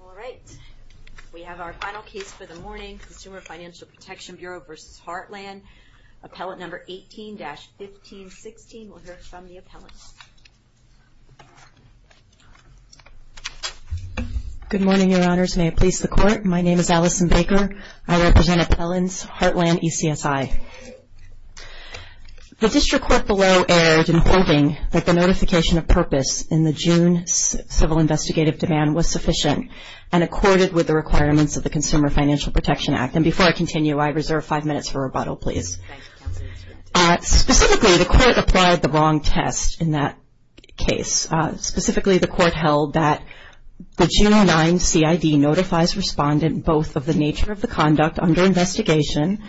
All right. We have our final case for the morning, Consumer Financial Protection Bureau v. Heartland. Appellant number 18-1516. We'll hear from the appellant. Good morning, Your Honors. May it please the Court, my name is Allison Baker. I represent appellants, Heartland ECSI. The District Court below erred in hoping that the notification of purpose in the June civil investigative demand was sufficient and accorded with the requirements of the Consumer Financial Protection Act. And before I continue, I reserve five minutes for rebuttal, please. Specifically, the Court applied the wrong test in that case. Specifically the Court held that the June 09 CID notifies respondent both of the nature of the conduct under investigation,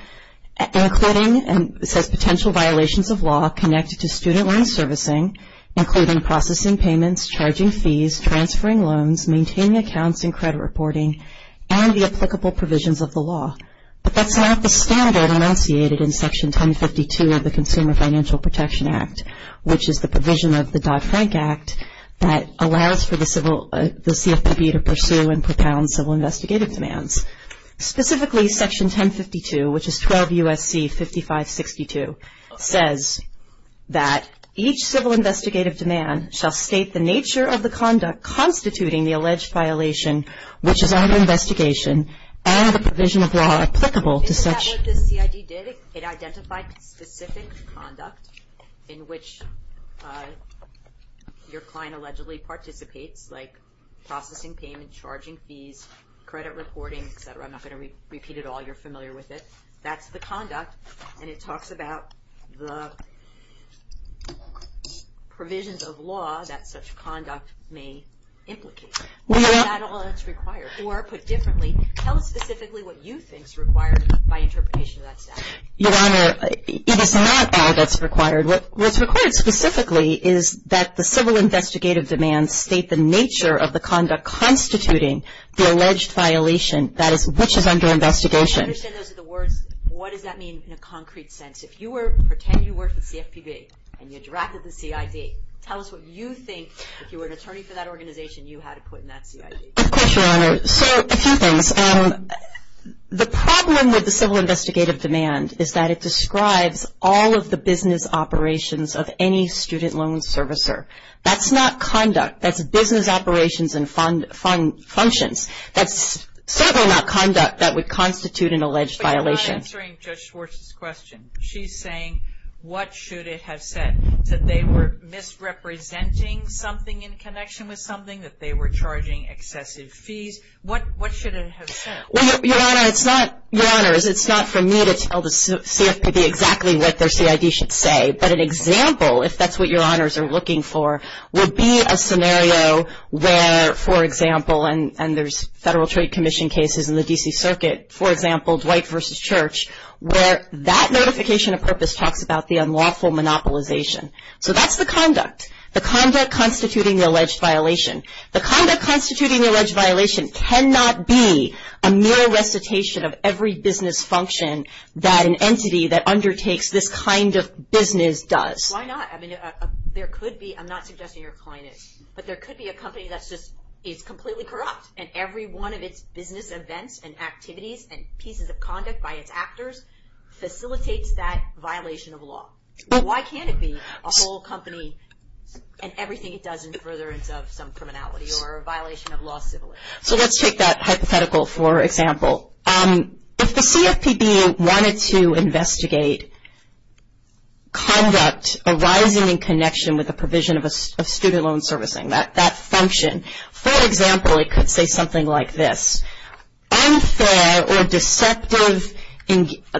including and says potential violations of law connected to student loan servicing, including processing payments, charging fees, transferring loans, maintaining accounts and credit reporting, and the applicable provisions of the law. But that's not the standard enunciated in Section 1052 of the Consumer Financial Protection Act, which is the provision of the Dodd-Frank Act that allows for the CFPB to pursue and propound civil investigative demands. Specifically, Section 1052, which is 12 U.S.C. 5562, says that each civil investigative demand shall state the nature of the conduct constituting the alleged violation, which is under investigation and the provision of law applicable to such. Isn't that what the CID did? It identified specific conduct in which your client allegedly participates, like processing payments, charging fees, credit reporting, et cetera. I'm not going to repeat it all. You're familiar with it. That's the conduct, and it talks about the provisions of law that such conduct may implicate. Isn't that all that's required? Or put differently, tell us specifically what you think is required by interpretation of that statute. Your Honor, it is not all that's required. What's required specifically is that the civil investigative demands state the nature of the conduct constituting the alleged violation, which is under investigation. I understand those are the words. What does that mean in a concrete sense? If you were to pretend you work for the CFPB and you interacted with the CID, tell us what you think, if you were an attorney for that organization, you had to put in that CID. Of course, Your Honor. So, a few things. The problem with the civil investigative demand is that it describes all of the business operations of any student loan servicer. That's not conduct. That's business operations and functions. That's not conduct that would constitute an alleged violation. But you're not answering Judge Schwartz's question. She's saying, what should it have said? That they were misrepresenting something in connection with something? That they were charging excessive fees? What should it have said? Well, Your Honor, it's not for me to tell the CFPB exactly what their CID should say, but an example, if that's what Your Honors are looking for, would be a scenario where, for example, and there's Federal Trade Commission cases in the D.C. Circuit, for example, Dwight v. Church, where that notification of purpose talks about the unlawful monopolization. So, that's the conduct. The conduct constituting the alleged violation. The conduct constituting the alleged violation cannot be a mere recitation of every business function that an entity that undertakes this kind of business does. Why not? I mean, there could be, I'm not completely corrupt, and every one of its business events and activities and pieces of conduct by its actors facilitates that violation of law. Why can't it be a whole company and everything it does in furtherance of some criminality or violation of law civilly? So, let's take that hypothetical for example. If the CFPB wanted to investigate conduct arising in connection with the provision of student loan servicing, that function, for example, it could say something like this. Unfair or deceptive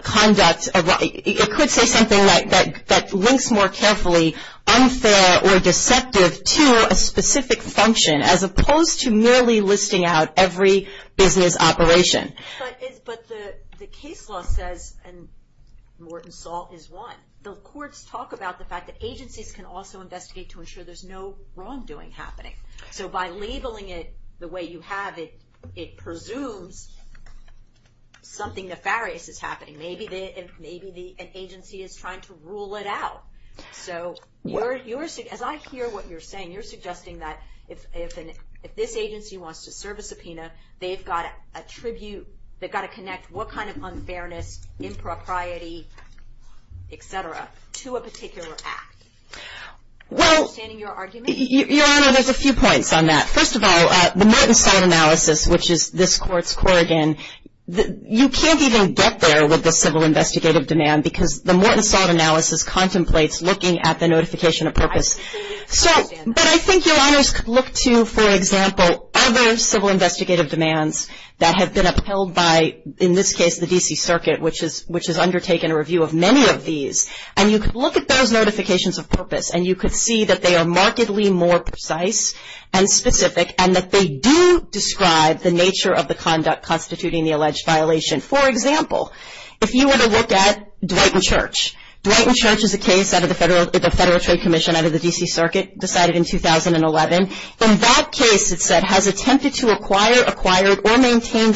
conduct, it could say something like that links more carefully unfair or deceptive to a specific function as opposed to merely listing out every business operation. But the case law says, and Morton saw is one, the courts talk about the fact that agencies can also So, by labeling it the way you have it, it presumes something nefarious is happening. Maybe an agency is trying to rule it out. So, as I hear what you're saying, you're suggesting that if this agency wants to serve a subpoena, they've got to connect what kind of unfairness, impropriety, et cetera, to a particular act. Understanding your argument? Well, Your Honor, there's a few points on that. First of all, the Morton-Sod analysis, which is this court's core again, you can't even get there with the civil investigative demand because the Morton-Sod analysis contemplates looking at the notification of purpose. But I think Your Honors could look to, for example, other civil investigative demands that have been upheld by, in this case, the D.C. Circuit, which has undertaken a review of many of these, and you could look at those notifications of purpose, and you could see that they are markedly more precise and specific, and that they do describe the nature of the conduct constituting the alleged violation. For example, if you were to look at Dwight & Church, Dwight & Church is a case out of the Federal Trade Commission out of the D.C.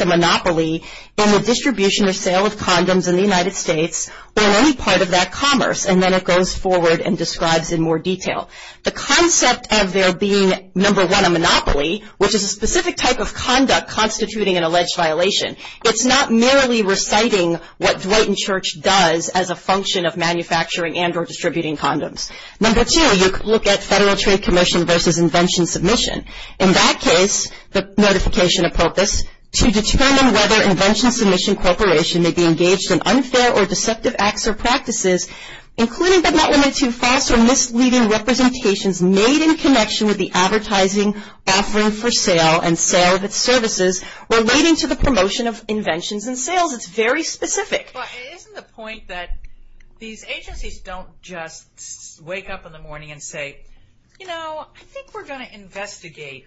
maintained a monopoly in the distribution or sale of condoms in the United States, or any part of that commerce, and then it goes forward and describes in more detail. The concept of there being, number one, a monopoly, which is a specific type of conduct constituting an alleged violation, it's not merely reciting what Dwight & Church does as a function of manufacturing and or distributing condoms. Number two, you could look at Federal Trade Commission versus Invention Submission. In that case, the notification of purpose, to determine whether Invention Submission Corporation may be engaged in unfair or deceptive acts or practices, including but not limited to false or misleading representations made in connection with the advertising offering for sale and sale of its services relating to the promotion of inventions and sales. It's very specific. Isn't the point that these agencies don't just wake up in the morning and say, you know, I think we're going to investigate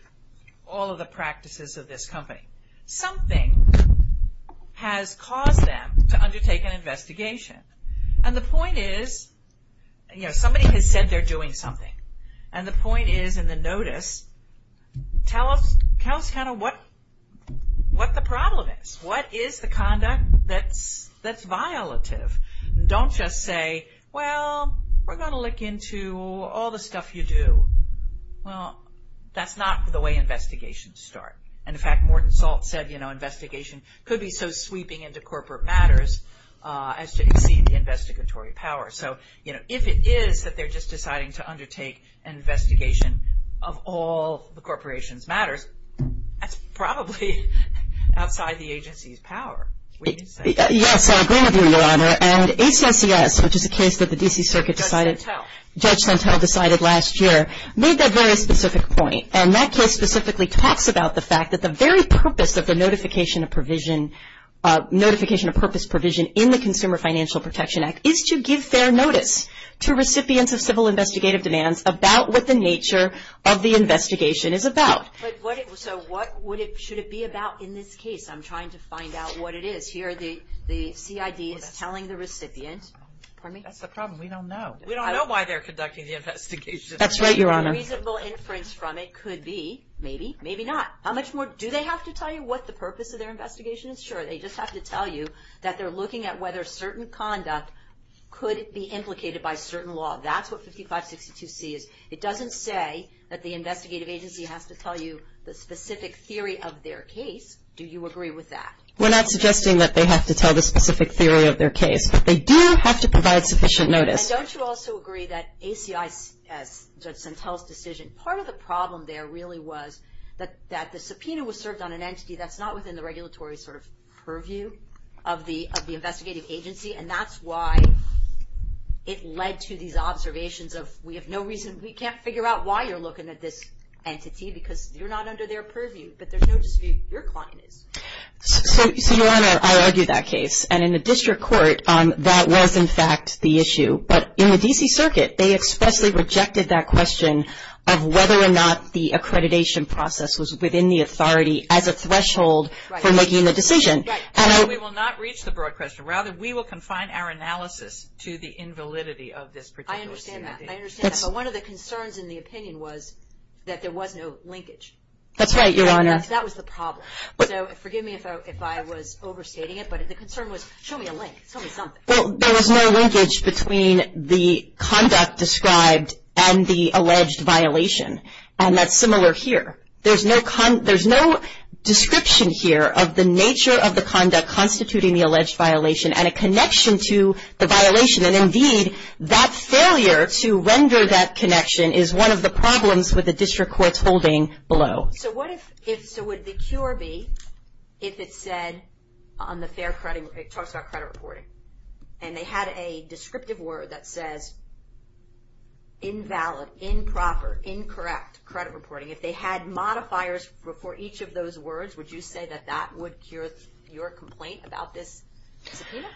all of the practices of this company. Something has caused them to undertake an investigation. The point is, somebody has said they're doing something. The point is in the notice, tell us what the problem is. What is the conduct that's violative? Don't just say, well, we're going to look into all the stuff you do. Well, that's not the way investigations start. In fact, Morton Salt said, you know, investigation could be so sweeping into corporate matters as to exceed the investigatory power. So, you know, if it is that they're just deciding to undertake an investigation of all the corporation's matters, that's probably outside the agency's power, we can say. Yes, I agree with you, Your Honor. And ACSCS, which is a case that the D.C. Circuit decided, Judge Santel decided last year, made that very specific point. And that case specifically talks about the fact that the very purpose of the notification of provision, notification of purpose provision in the Consumer Financial Protection Act is to give fair notice to recipients of civil investigative demands about what the nature of the investigation is about. So what would it, should it be about in this case? I'm trying to find out what it is. Here, the CID is telling the recipient. Pardon me? That's the problem. We don't know. We don't know why they're conducting the investigation. That's right, Your Honor. Reasonable inference from it could be, maybe, maybe not. How much more, do they have to tell you what the purpose of their investigation is? Sure, they just have to tell you that they're looking at whether certain conduct could be implicated by certain law. That's what 5562C is. It doesn't say that the investigative agency has to tell you the specific theory of their case. Do you agree with that? We're not suggesting that they have to tell the specific theory of their case. But they do have to provide sufficient notice. And don't you also agree that ACI, as Judge Santel's decision, part of the problem there really was that the subpoena was served on an entity that's not within the regulatory sort of purview of the investigative agency. And that's why it led to these observations of, we have no reason, we can't figure out why you're looking at this entity because you're not under their purview. But there's no dispute, your client is. So, Your Honor, I argue that case. And in the district court, that was, in fact, the issue. But in the D.C. Circuit, they expressly rejected that question of whether or not the accreditation process was within the authority as a threshold for making the decision. Right. And we will not reach the broad question. Rather, we will confine our analysis to the invalidity of this particular entity. I understand that. But one of the concerns in the opinion was that there was no linkage. That's right, Your Honor. That was the problem. So, forgive me if I was overstating it. But the concern was, show me a link, show me something. Well, there was no linkage between the conduct described and the alleged violation. And that's similar here. There's no description here of the nature of the conduct constituting the violation. And indeed, that failure to render that connection is one of the problems with the district court's holding below. So, what if, so would the cure be if it said on the fair credit, it talks about credit reporting, and they had a descriptive word that says invalid, improper, incorrect credit reporting. If they had modifiers for each of those words, would you say that that would cure your complaint about this subpoena?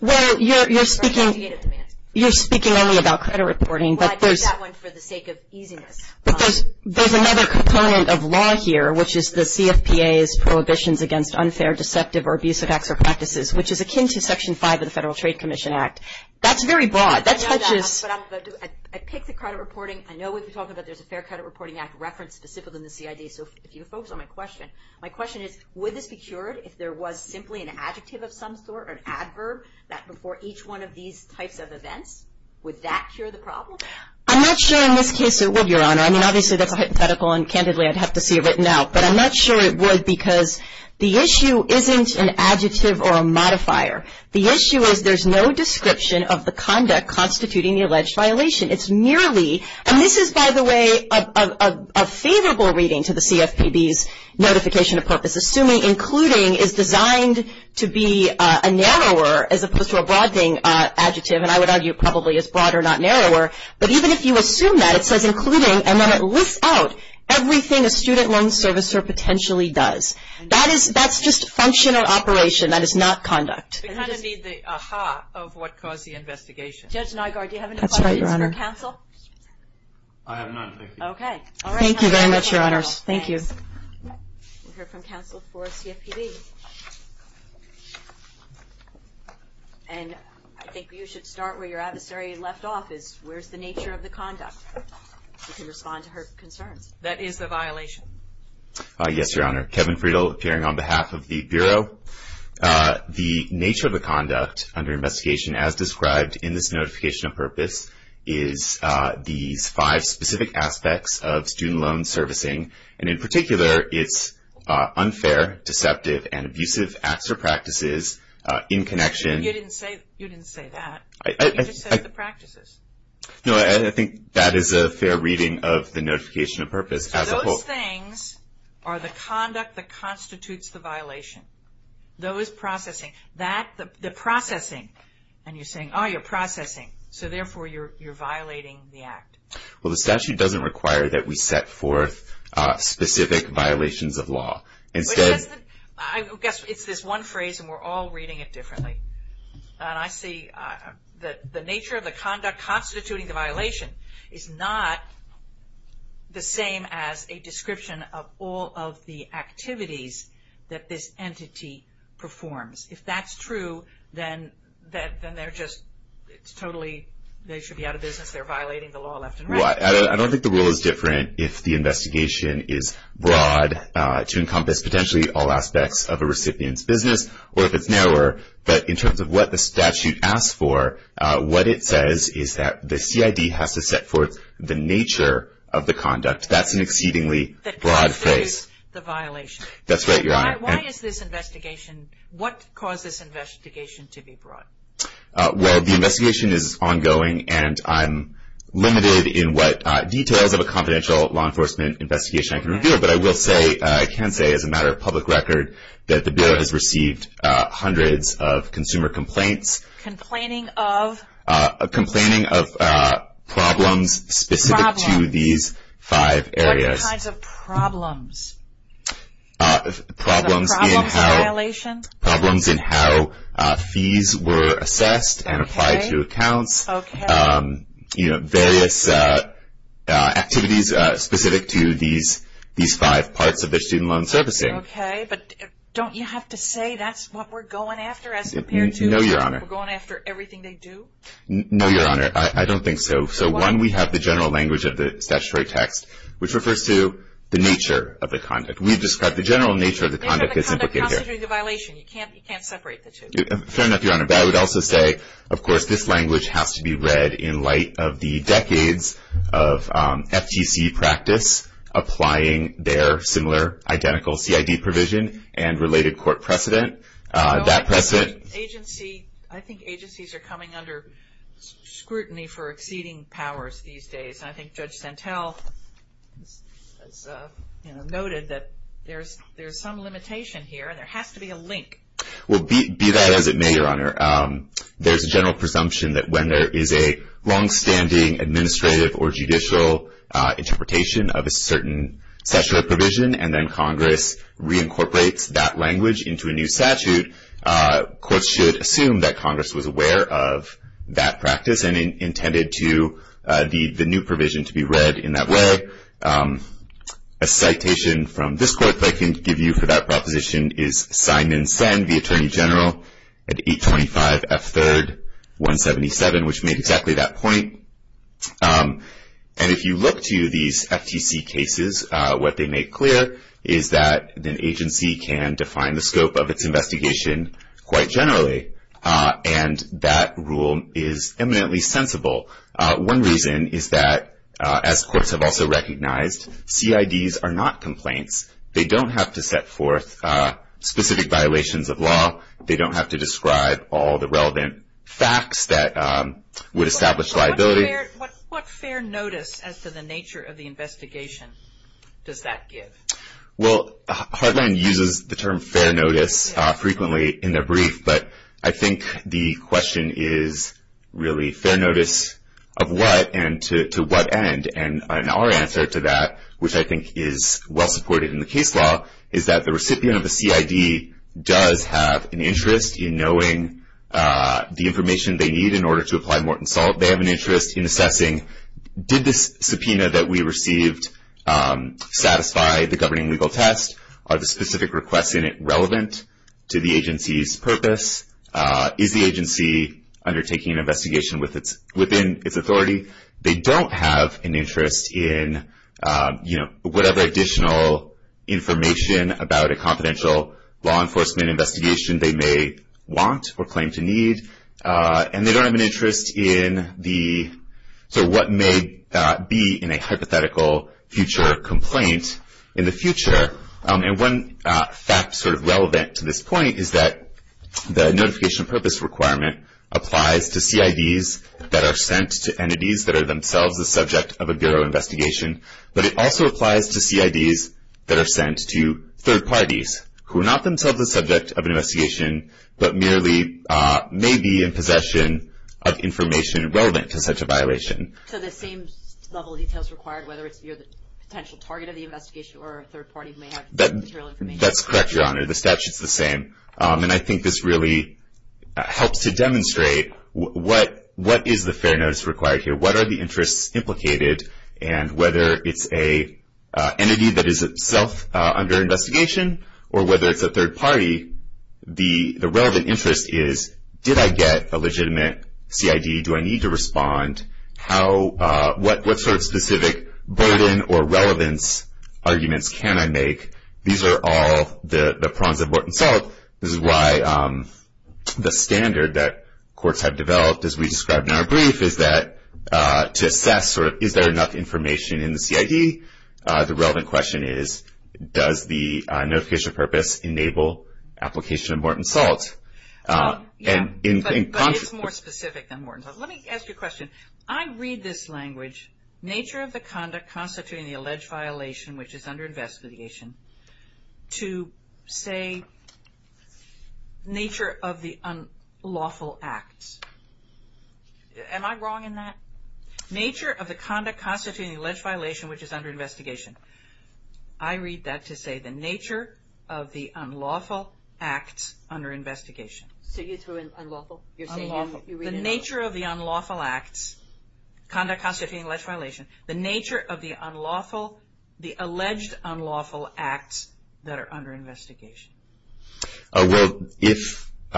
Well, you're speaking only about credit reporting. Well, I picked that one for the sake of easiness. But there's another component of law here, which is the CFPA's prohibitions against unfair, deceptive, or abusive acts or practices, which is akin to Section 5 of the Federal Trade Commission Act. That's very broad. That touches. I know that, but I picked the credit reporting. I know we've been talking about there's a fair credit reporting act referenced specifically in the CID. So, if you focus on my question, my question is, would this be cured if there was simply an adjective of some sort or an adverb that, before each one of these types of events, would that cure the problem? I'm not sure in this case it would, Your Honor. I mean, obviously, that's a hypothetical, and candidly, I'd have to see it written out. But I'm not sure it would because the issue isn't an adjective or a modifier. The issue is there's no description of the conduct constituting the alleged violation. It's merely, and this is, by the way, a favorable reading to the CFPB's notification of purpose, assuming including is designed to be a narrower, as opposed to a broad thing, adjective. And I would argue probably it's broader, not narrower. But even if you assume that, it says including, and then it lists out everything a student loan servicer potentially does. That is, that's just functional operation. That is not conduct. We kind of need the ah-ha of what caused the investigation. Judge Nygaard, do you have any questions for counsel? That's right, Your Honor. I have none, thank you. Okay. All right. Thank you very much, Your Honors. Thank you. We'll hear from counsel for CFPB. And I think you should start where your adversary left off, is where's the nature of the conduct? You can respond to her concerns. That is a violation. Yes, Your Honor. Kevin Friedel appearing on behalf of the Bureau. The nature of the conduct under investigation, as described in this notification of purpose, is these five specific aspects of student loan servicing. And in particular, it's unfair, deceptive, and abusive acts or practices in connection. You didn't say that. You just said the practices. No, I think that is a fair reading of the notification of purpose as a whole. Those things are the conduct that constitutes the violation. Those processing. That, the you're violating the act. Well, the statute doesn't require that we set forth specific violations of law. Instead, I guess it's this one phrase, and we're all reading it differently. And I see that the nature of the conduct constituting the violation is not the same as a description of all of the activities that this entity performs. If that's true, then they're just, it's totally, they should be out of business. They're violating the law left and right. I don't think the rule is different if the investigation is broad to encompass potentially all aspects of a recipient's business or if it's narrower. But in terms of what the statute asks for, what it says is that the CID has to set forth the nature of the conduct. That's an exceedingly broad phrase. That constitutes the violation. That's right, Your Honor. Why is this investigation, what caused this investigation to be broad? Well, the investigation is ongoing, and I'm limited in what details of a confidential law enforcement investigation I can reveal. But I will say, I can say as a matter of public record, that the bill has received hundreds of consumer complaints. Complaining of? Complaining of problems specific to these five areas. What kinds of problems? Problems in how fees were assessed and applied to accounts. Various activities specific to these five parts of the student loan servicing. Okay, but don't you have to say that's what we're going after as compared to? No, Your Honor. We're going after everything they do? No, Your Honor. I don't think so. So one, we have the general language of the statutory text, which refers to the nature of the conduct. We've described the general nature of the conduct. The nature of the conduct constitutes a violation. You can't separate the two. Fair enough, Your Honor. But I would also say, of course, this language has to be read in light of the decades of FTC practice, applying their similar identical CID provision and related court precedent. That precedent. Agency, I think agencies are coming under scrutiny for exceeding powers these days. And I think Judge Santel noted that there's some limitation here and there has to be a link. Well, be that as it may, Your Honor, there's a general presumption that when there is a longstanding administrative or judicial interpretation of a certain statutory provision and then Congress reincorporates that language into a new statute, courts should assume that Congress was aware of that practice and intended the new provision to be read in that way. A citation from this court that I can give you for that proposition is Simon Senn, the Attorney General, at 825 F3rd 177, which made exactly that point. And if you look to these FTC cases, what they make clear is that an agency can define the scope of its investigation quite generally. And that rule is eminently sensible. One reason is that, as courts have also recognized, CIDs are not complaints. They don't have to set forth specific violations of law. They don't have to describe all the relevant facts that would establish liability. But what fair notice as to the nature of the investigation does that give? Well, Heartland uses the term fair notice frequently in their brief, but I think the question is really fair notice of what and to what end. And our answer to that, which I think is well supported in the case law, is that the recipient of the CID does have an interest in knowing the information they need in order to apply Morton Salt. They have an interest in assessing did this subpoena that we received satisfy the governing legal test? Are the specific requests in it relevant to the agency's purpose? Is the agency undertaking an investigation within its authority? They don't have an interest in whatever additional information about a confidential law enforcement investigation they may want or claim to need. And they don't have an interest in what may be in a hypothetical future complaint in the future. And one fact sort of relevant to this point is that the notification of purpose requirement applies to CIDs that are sent to entities that are themselves the subject of a bureau investigation. But it also applies to CIDs that are sent to third parties who are not themselves the subject of an investigation but merely may be in possession of information relevant to such a violation. So the same level of details required, whether you're the potential target of the investigation or a third party who may have material information? That's correct, Your Honor. The statute's the same. And I think this really helps to demonstrate what is the fair notice required here? What are the interests implicated? And whether it's an entity that is itself under investigation or whether it's a third party, the relevant interest is, did I get a legitimate CID? Do I need to respond? What sort of specific burden or relevance arguments can I make? These are all the prongs of what in itself is why the standard that courts have developed, as we described in our brief, is that to assess sort of is there enough information in the CID? The relevant question is, does the notification of purpose enable application of Horton's Salt? Yeah, but it's more specific than Horton's Salt. Let me ask you a question. I read this language, nature of the conduct constituting the alleged violation which is under investigation, to say nature of the unlawful acts. Am I wrong in that? Nature of the conduct constituting the alleged violation which is under investigation. I read that to say the nature of the unlawful acts under investigation. So you threw in unlawful? You're saying you read it out? The nature of the unlawful acts, conduct constituting alleged violation, the nature of the unlawful, the alleged unlawful acts that are under investigation. Well,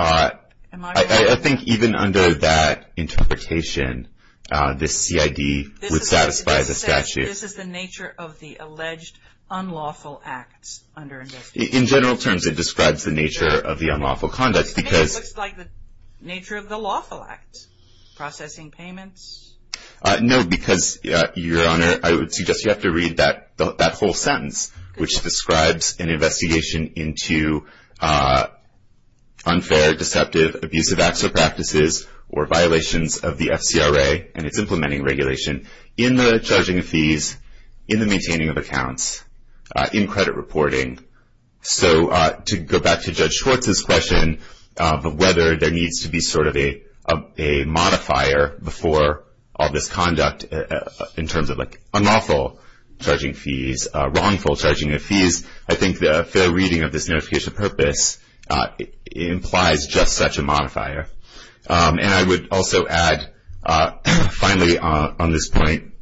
I think even under that interpretation, this CID would satisfy the statute. This is the nature of the alleged unlawful acts under investigation. In general terms, it describes the nature of the unlawful conducts. It looks like the nature of the lawful acts, processing payments. No, because Your Honor, I would suggest you have to read that whole sentence, which describes an investigation into unfair, deceptive, abusive acts or practices or violations of the FCRA and its implementing regulation in the charging of fees, in the maintaining of accounts, in credit reporting. So to go back to Judge Schwartz's question of whether there needs to be sort of a modifier before all this conduct in terms of unlawful charging fees, wrongful charging of fees, I think the fair reading of this notification of purpose implies just such a modifier. And I would also add, finally on this point,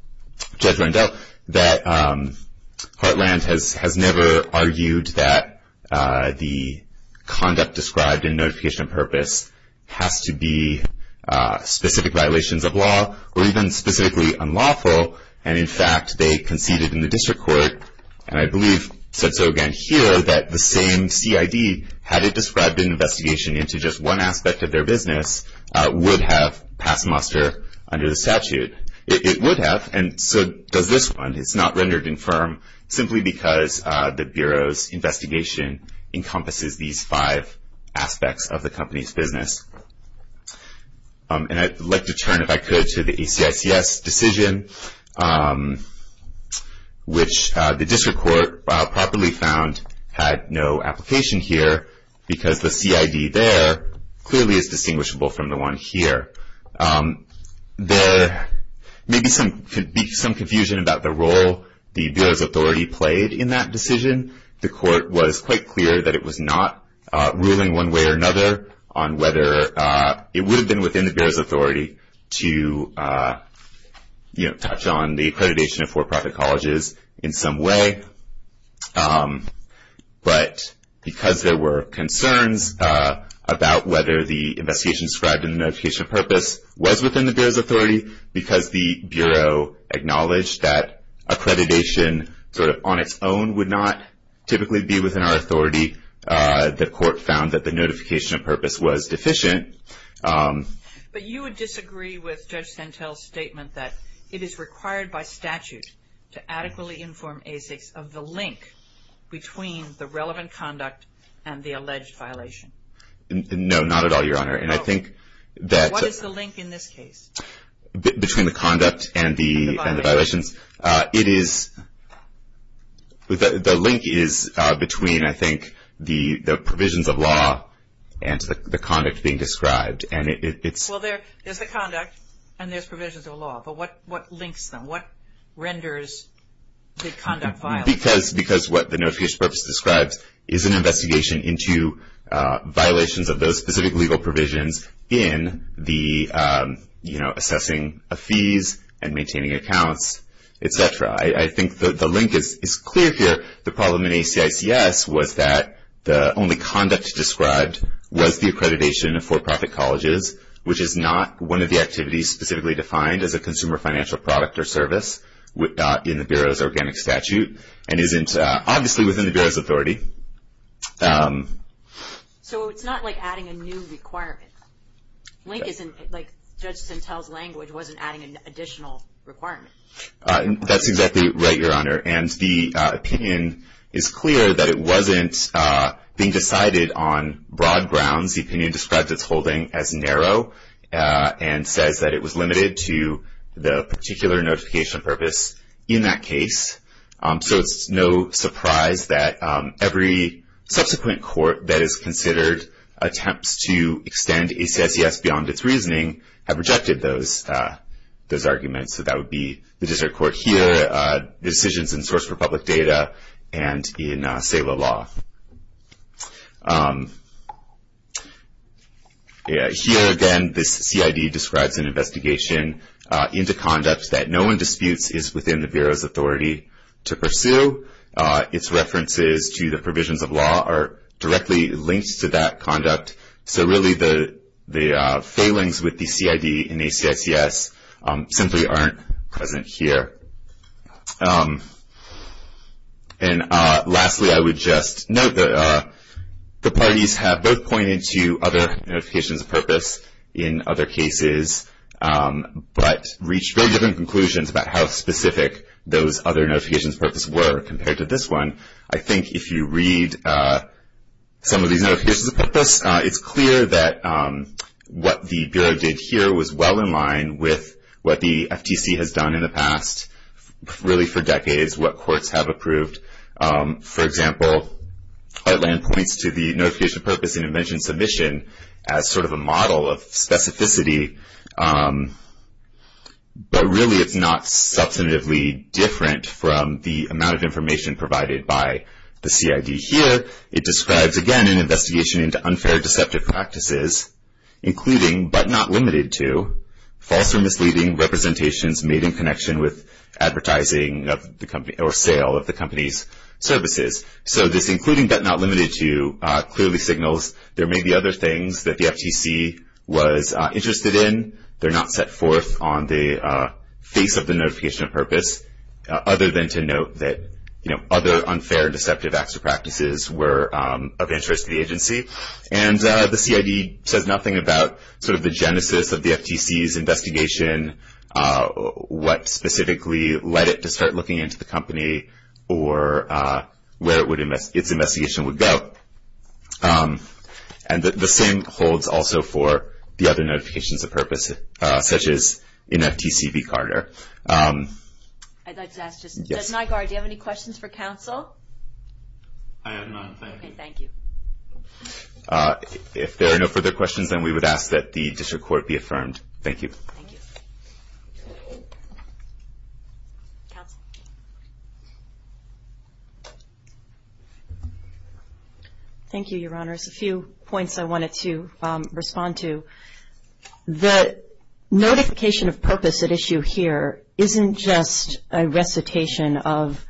Judge Rendell, that Heartland has never argued that the conduct described in notification of purpose has to be specific violations of law or even specifically unlawful. And in fact, they conceded in the district court, and I believe said so again here, that the same CID, had it described an investigation into just one aspect of their business, would have passed muster under the statute. It would have, and so does this one. It's not rendered infirm simply because the Bureau's investigation encompasses these five aspects of the company's business. And I'd like to turn, if I could, to the ACICS decision, which the district court properly found had no application here because the CID there clearly is distinguishable from the one here. There may be some confusion about the role the Bureau's authority played in that decision. The court was quite clear that it was not ruling one way or another on whether it would have been within the Bureau's authority to touch on the accreditation of for-profit colleges in some way. But because there were concerns about whether the investigation described in the notification of purpose was within the Bureau's authority, because the Bureau acknowledged that accreditation sort of on its own would not typically be within our authority, the court found that the notification of purpose was deficient. But you would disagree with Judge Santel's statement that it is required by statute to adequately inform ACICS of the link between the relevant conduct and the alleged violation. No, not at all, Your Honor. And I think that... What is the link in this case? Between the conduct and the violations. The link is between, I think, the provisions of law and the conduct being described. And it's... Well, there's the conduct and there's provisions of law. But what links them? What renders the conduct violated? Because what the notification of purpose describes is an investigation into violations of those specific legal provisions in the assessing of fees and maintaining accounts, et cetera. I think the link is clear here. The problem in ACICS was that the only conduct described was the accreditation of for-profit colleges, which is not one of the activities specifically defined as a consumer financial product or service in the Bureau's organic statute and isn't obviously within the Bureau's authority. So, it's not like adding a new requirement. Link isn't... Like, Judge Sentelle's language wasn't adding an additional requirement. That's exactly right, Your Honor. And the opinion is clear that it wasn't being decided on broad grounds. The opinion describes its holding as narrow and says that it was limited to the particular notification of purpose in that case. So, it's no surprise that every subsequent court that has considered attempts to extend ACICS beyond its reasoning have rejected those arguments. So, that would be the District Court here, decisions in Source for Public Data, and in SALA law. Here, again, this CID describes an investigation into conduct that no one disputes is within the Bureau's authority. To pursue its references to the provisions of law are directly linked to that conduct. So, really, the failings with the CID and ACICS simply aren't present here. And lastly, I would just note that the parties have both pointed to other notifications of purpose in other cases, but reached very different conclusions about how specific those other notifications of purpose were compared to this one. I think if you read some of these notifications of purpose, it's clear that what the Bureau did here was well in line with what the FTC has done in the past, really for decades, what courts have approved. For example, Heartland points to the notification of purpose in invention and submission as sort of a model of specificity, but really it's not substantively different from the amount of information provided by the CID. Here, it describes, again, an investigation into unfair deceptive practices, including, but not limited to, false or misleading representations made in connection with advertising or sale of the company's services. So, this including, but not limited to, clearly signals there may be other things that the FTC was interested in. They're not set forth on the face of the notification of purpose, other than to note that, you know, other unfair deceptive acts or practices were of interest to the agency. And the CID says nothing about sort of the genesis of the FTC's investigation, what specifically led it to start looking into the company or where its investigation would go. And the same holds also for the other notifications of purpose, such as NFTC v. Carter. I'd like to ask just, does NYGARD, do you have any questions for counsel? I have none, thank you. Okay, thank you. If there are no further questions, then we would ask that the district court be affirmed. Thank you. Thank you. Counsel? Thank you, Your Honors. A few points I wanted to respond to. The notification of purpose at issue here isn't just a recitation of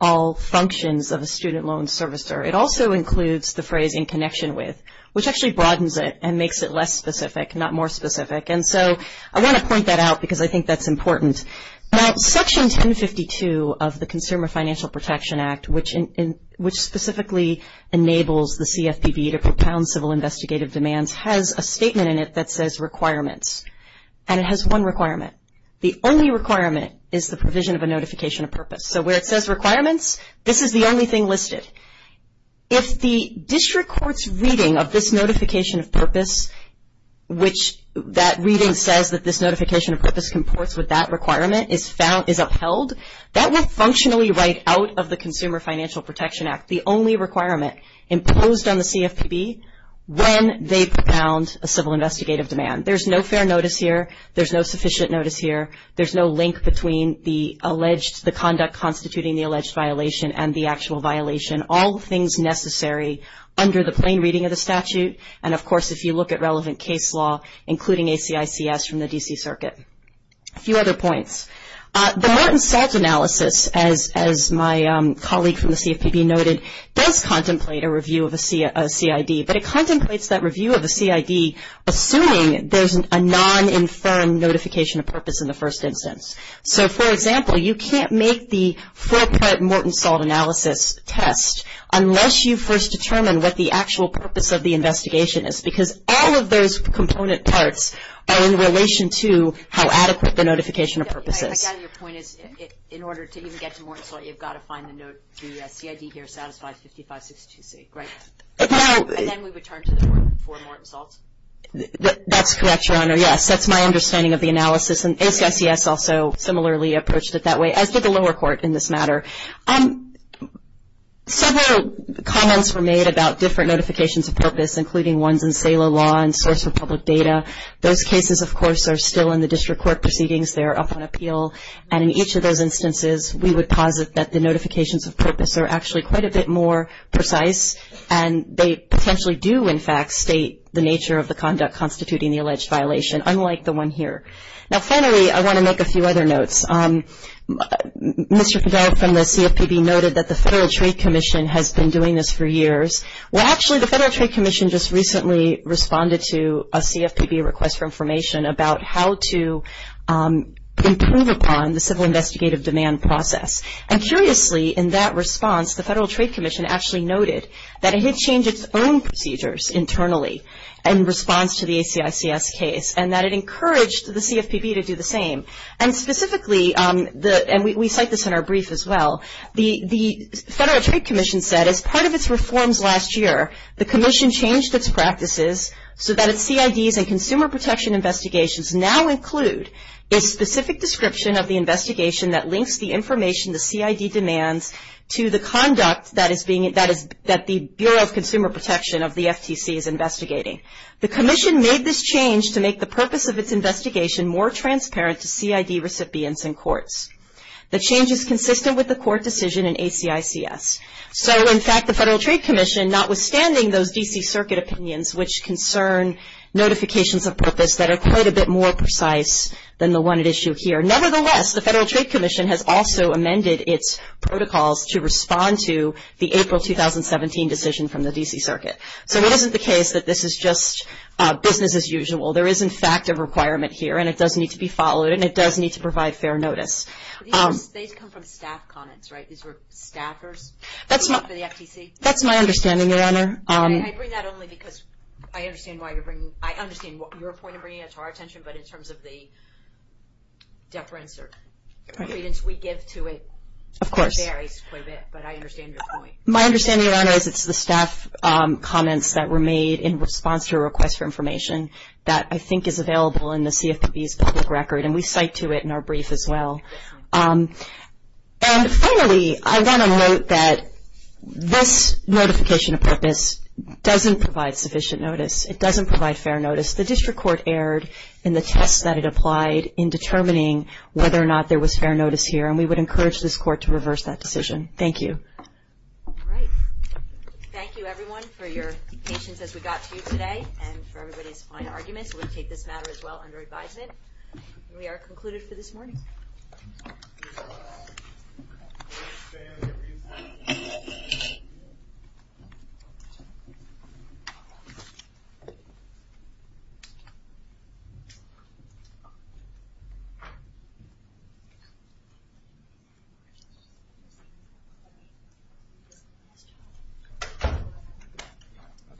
all functions of a student loan servicer. It also includes the phrase in connection with, which actually broadens it and makes it less specific, not more specific. And so I want to point that out because I think that's important. Now, Section 1052 of the Consumer Financial Protection Act, which specifically enables the CFPB to propound civil investigative demands, has a statement in it that says requirements. And it has one requirement. The only requirement is the provision of a notification of purpose. So where it says requirements, this is the only thing listed. If the district court's reading of this notification of purpose, which that reading says that this notification of purpose comports with that requirement is upheld, that will functionally write out of the Consumer Financial Protection Act the only requirement imposed on the CFPB when they propound a civil investigative demand. There's no fair notice here. There's no sufficient notice here. There's no link between the alleged, the conduct constituting the alleged violation and the actual violation. All the things necessary under the plain reading of the statute. And of course, if you look at relevant case law, including ACICS from the D.C. Circuit. A few other points. The Morton Salt Analysis, as my colleague from the CFPB noted, does contemplate a review of a CID. But it contemplates that review of a CID assuming there's a non-informed notification of purpose in the first instance. So for example, you can't make the four-part Morton Salt Analysis test unless you first determine what the actual purpose of the investigation is. Because all of those component parts are in relation to how adequate the notification of purpose is. I gather your point is, in order to even get to Morton Salt, you've got to find the note, the CID here satisfies 5562C, right? And then we return to the four Morton Salts? That's correct, Your Honor. Yes, that's my understanding of the analysis. And ACICS also similarly approached it that way, as did the lower court in this matter. Several comments were made about different notifications of purpose, including ones in SALA law and source for public data. Those cases, of course, are still in the district court proceedings. They're up on appeal. And in each of those instances, we would posit that the notifications of purpose are actually quite a bit more precise. And they potentially do, in fact, state the nature of the conduct constituting the alleged violation, unlike the one here. Now, finally, I want to make a few other notes. Mr. Fidel from the CFPB noted that the Federal Trade Commission has been doing this for years. Well, actually, the Federal Trade Commission just recently responded to a CFPB request for information about how to improve upon the civil investigative demand process. And curiously, in that response, the Federal Trade Commission actually noted that it had changed its own procedures internally in response to the ACICS case, and that it encouraged the CFPB to do the same. And specifically, and we cite this in our brief as well, the Federal Trade Commission said, as part of its reforms last year, the commission changed its practices so that its CIDs and consumer protection investigations now include a specific description of the investigation that links the information the CID demands to the conduct that the Bureau of Consumer Protection of the FTC is investigating. The commission made this change to make the purpose of its investigation more transparent to CID recipients in courts. The change is consistent with the court decision in ACICS. So, in fact, the Federal Trade Commission, notwithstanding those D.C. circuit opinions, which concern notifications of purpose that are quite a bit more precise than the one at issue here, nevertheless, the Federal Trade Commission has also amended its protocols to respond to the April 2017 decision from the D.C. circuit. So it isn't the case that this is just business as usual. There is, in fact, a requirement here, and it does need to be followed, and it does need to provide fair notice. These were staffers for the FTC? That's my understanding, Your Honor. I bring that only because I understand why you're bringing it. I understand your point of bringing it to our attention, but in terms of the deference or credence we give to it. Of course. It varies quite a bit, but I understand your point. My understanding, Your Honor, is it's the staff comments that were made in response to a request for information that I think is available in the CFPB's public record, and we cite to it in our brief as well. And finally, I want to note that this notification of purpose doesn't provide sufficient notice. It doesn't provide fair notice. The district court erred in the test that it applied in determining whether or not there was fair notice here, and we would encourage this court to reverse that decision. Thank you. All right. Thank you, everyone, for your patience as we got to you today and for everybody's fine arguments. We'll take this matter as well under advisement. We are concluded for this morning. Thank you.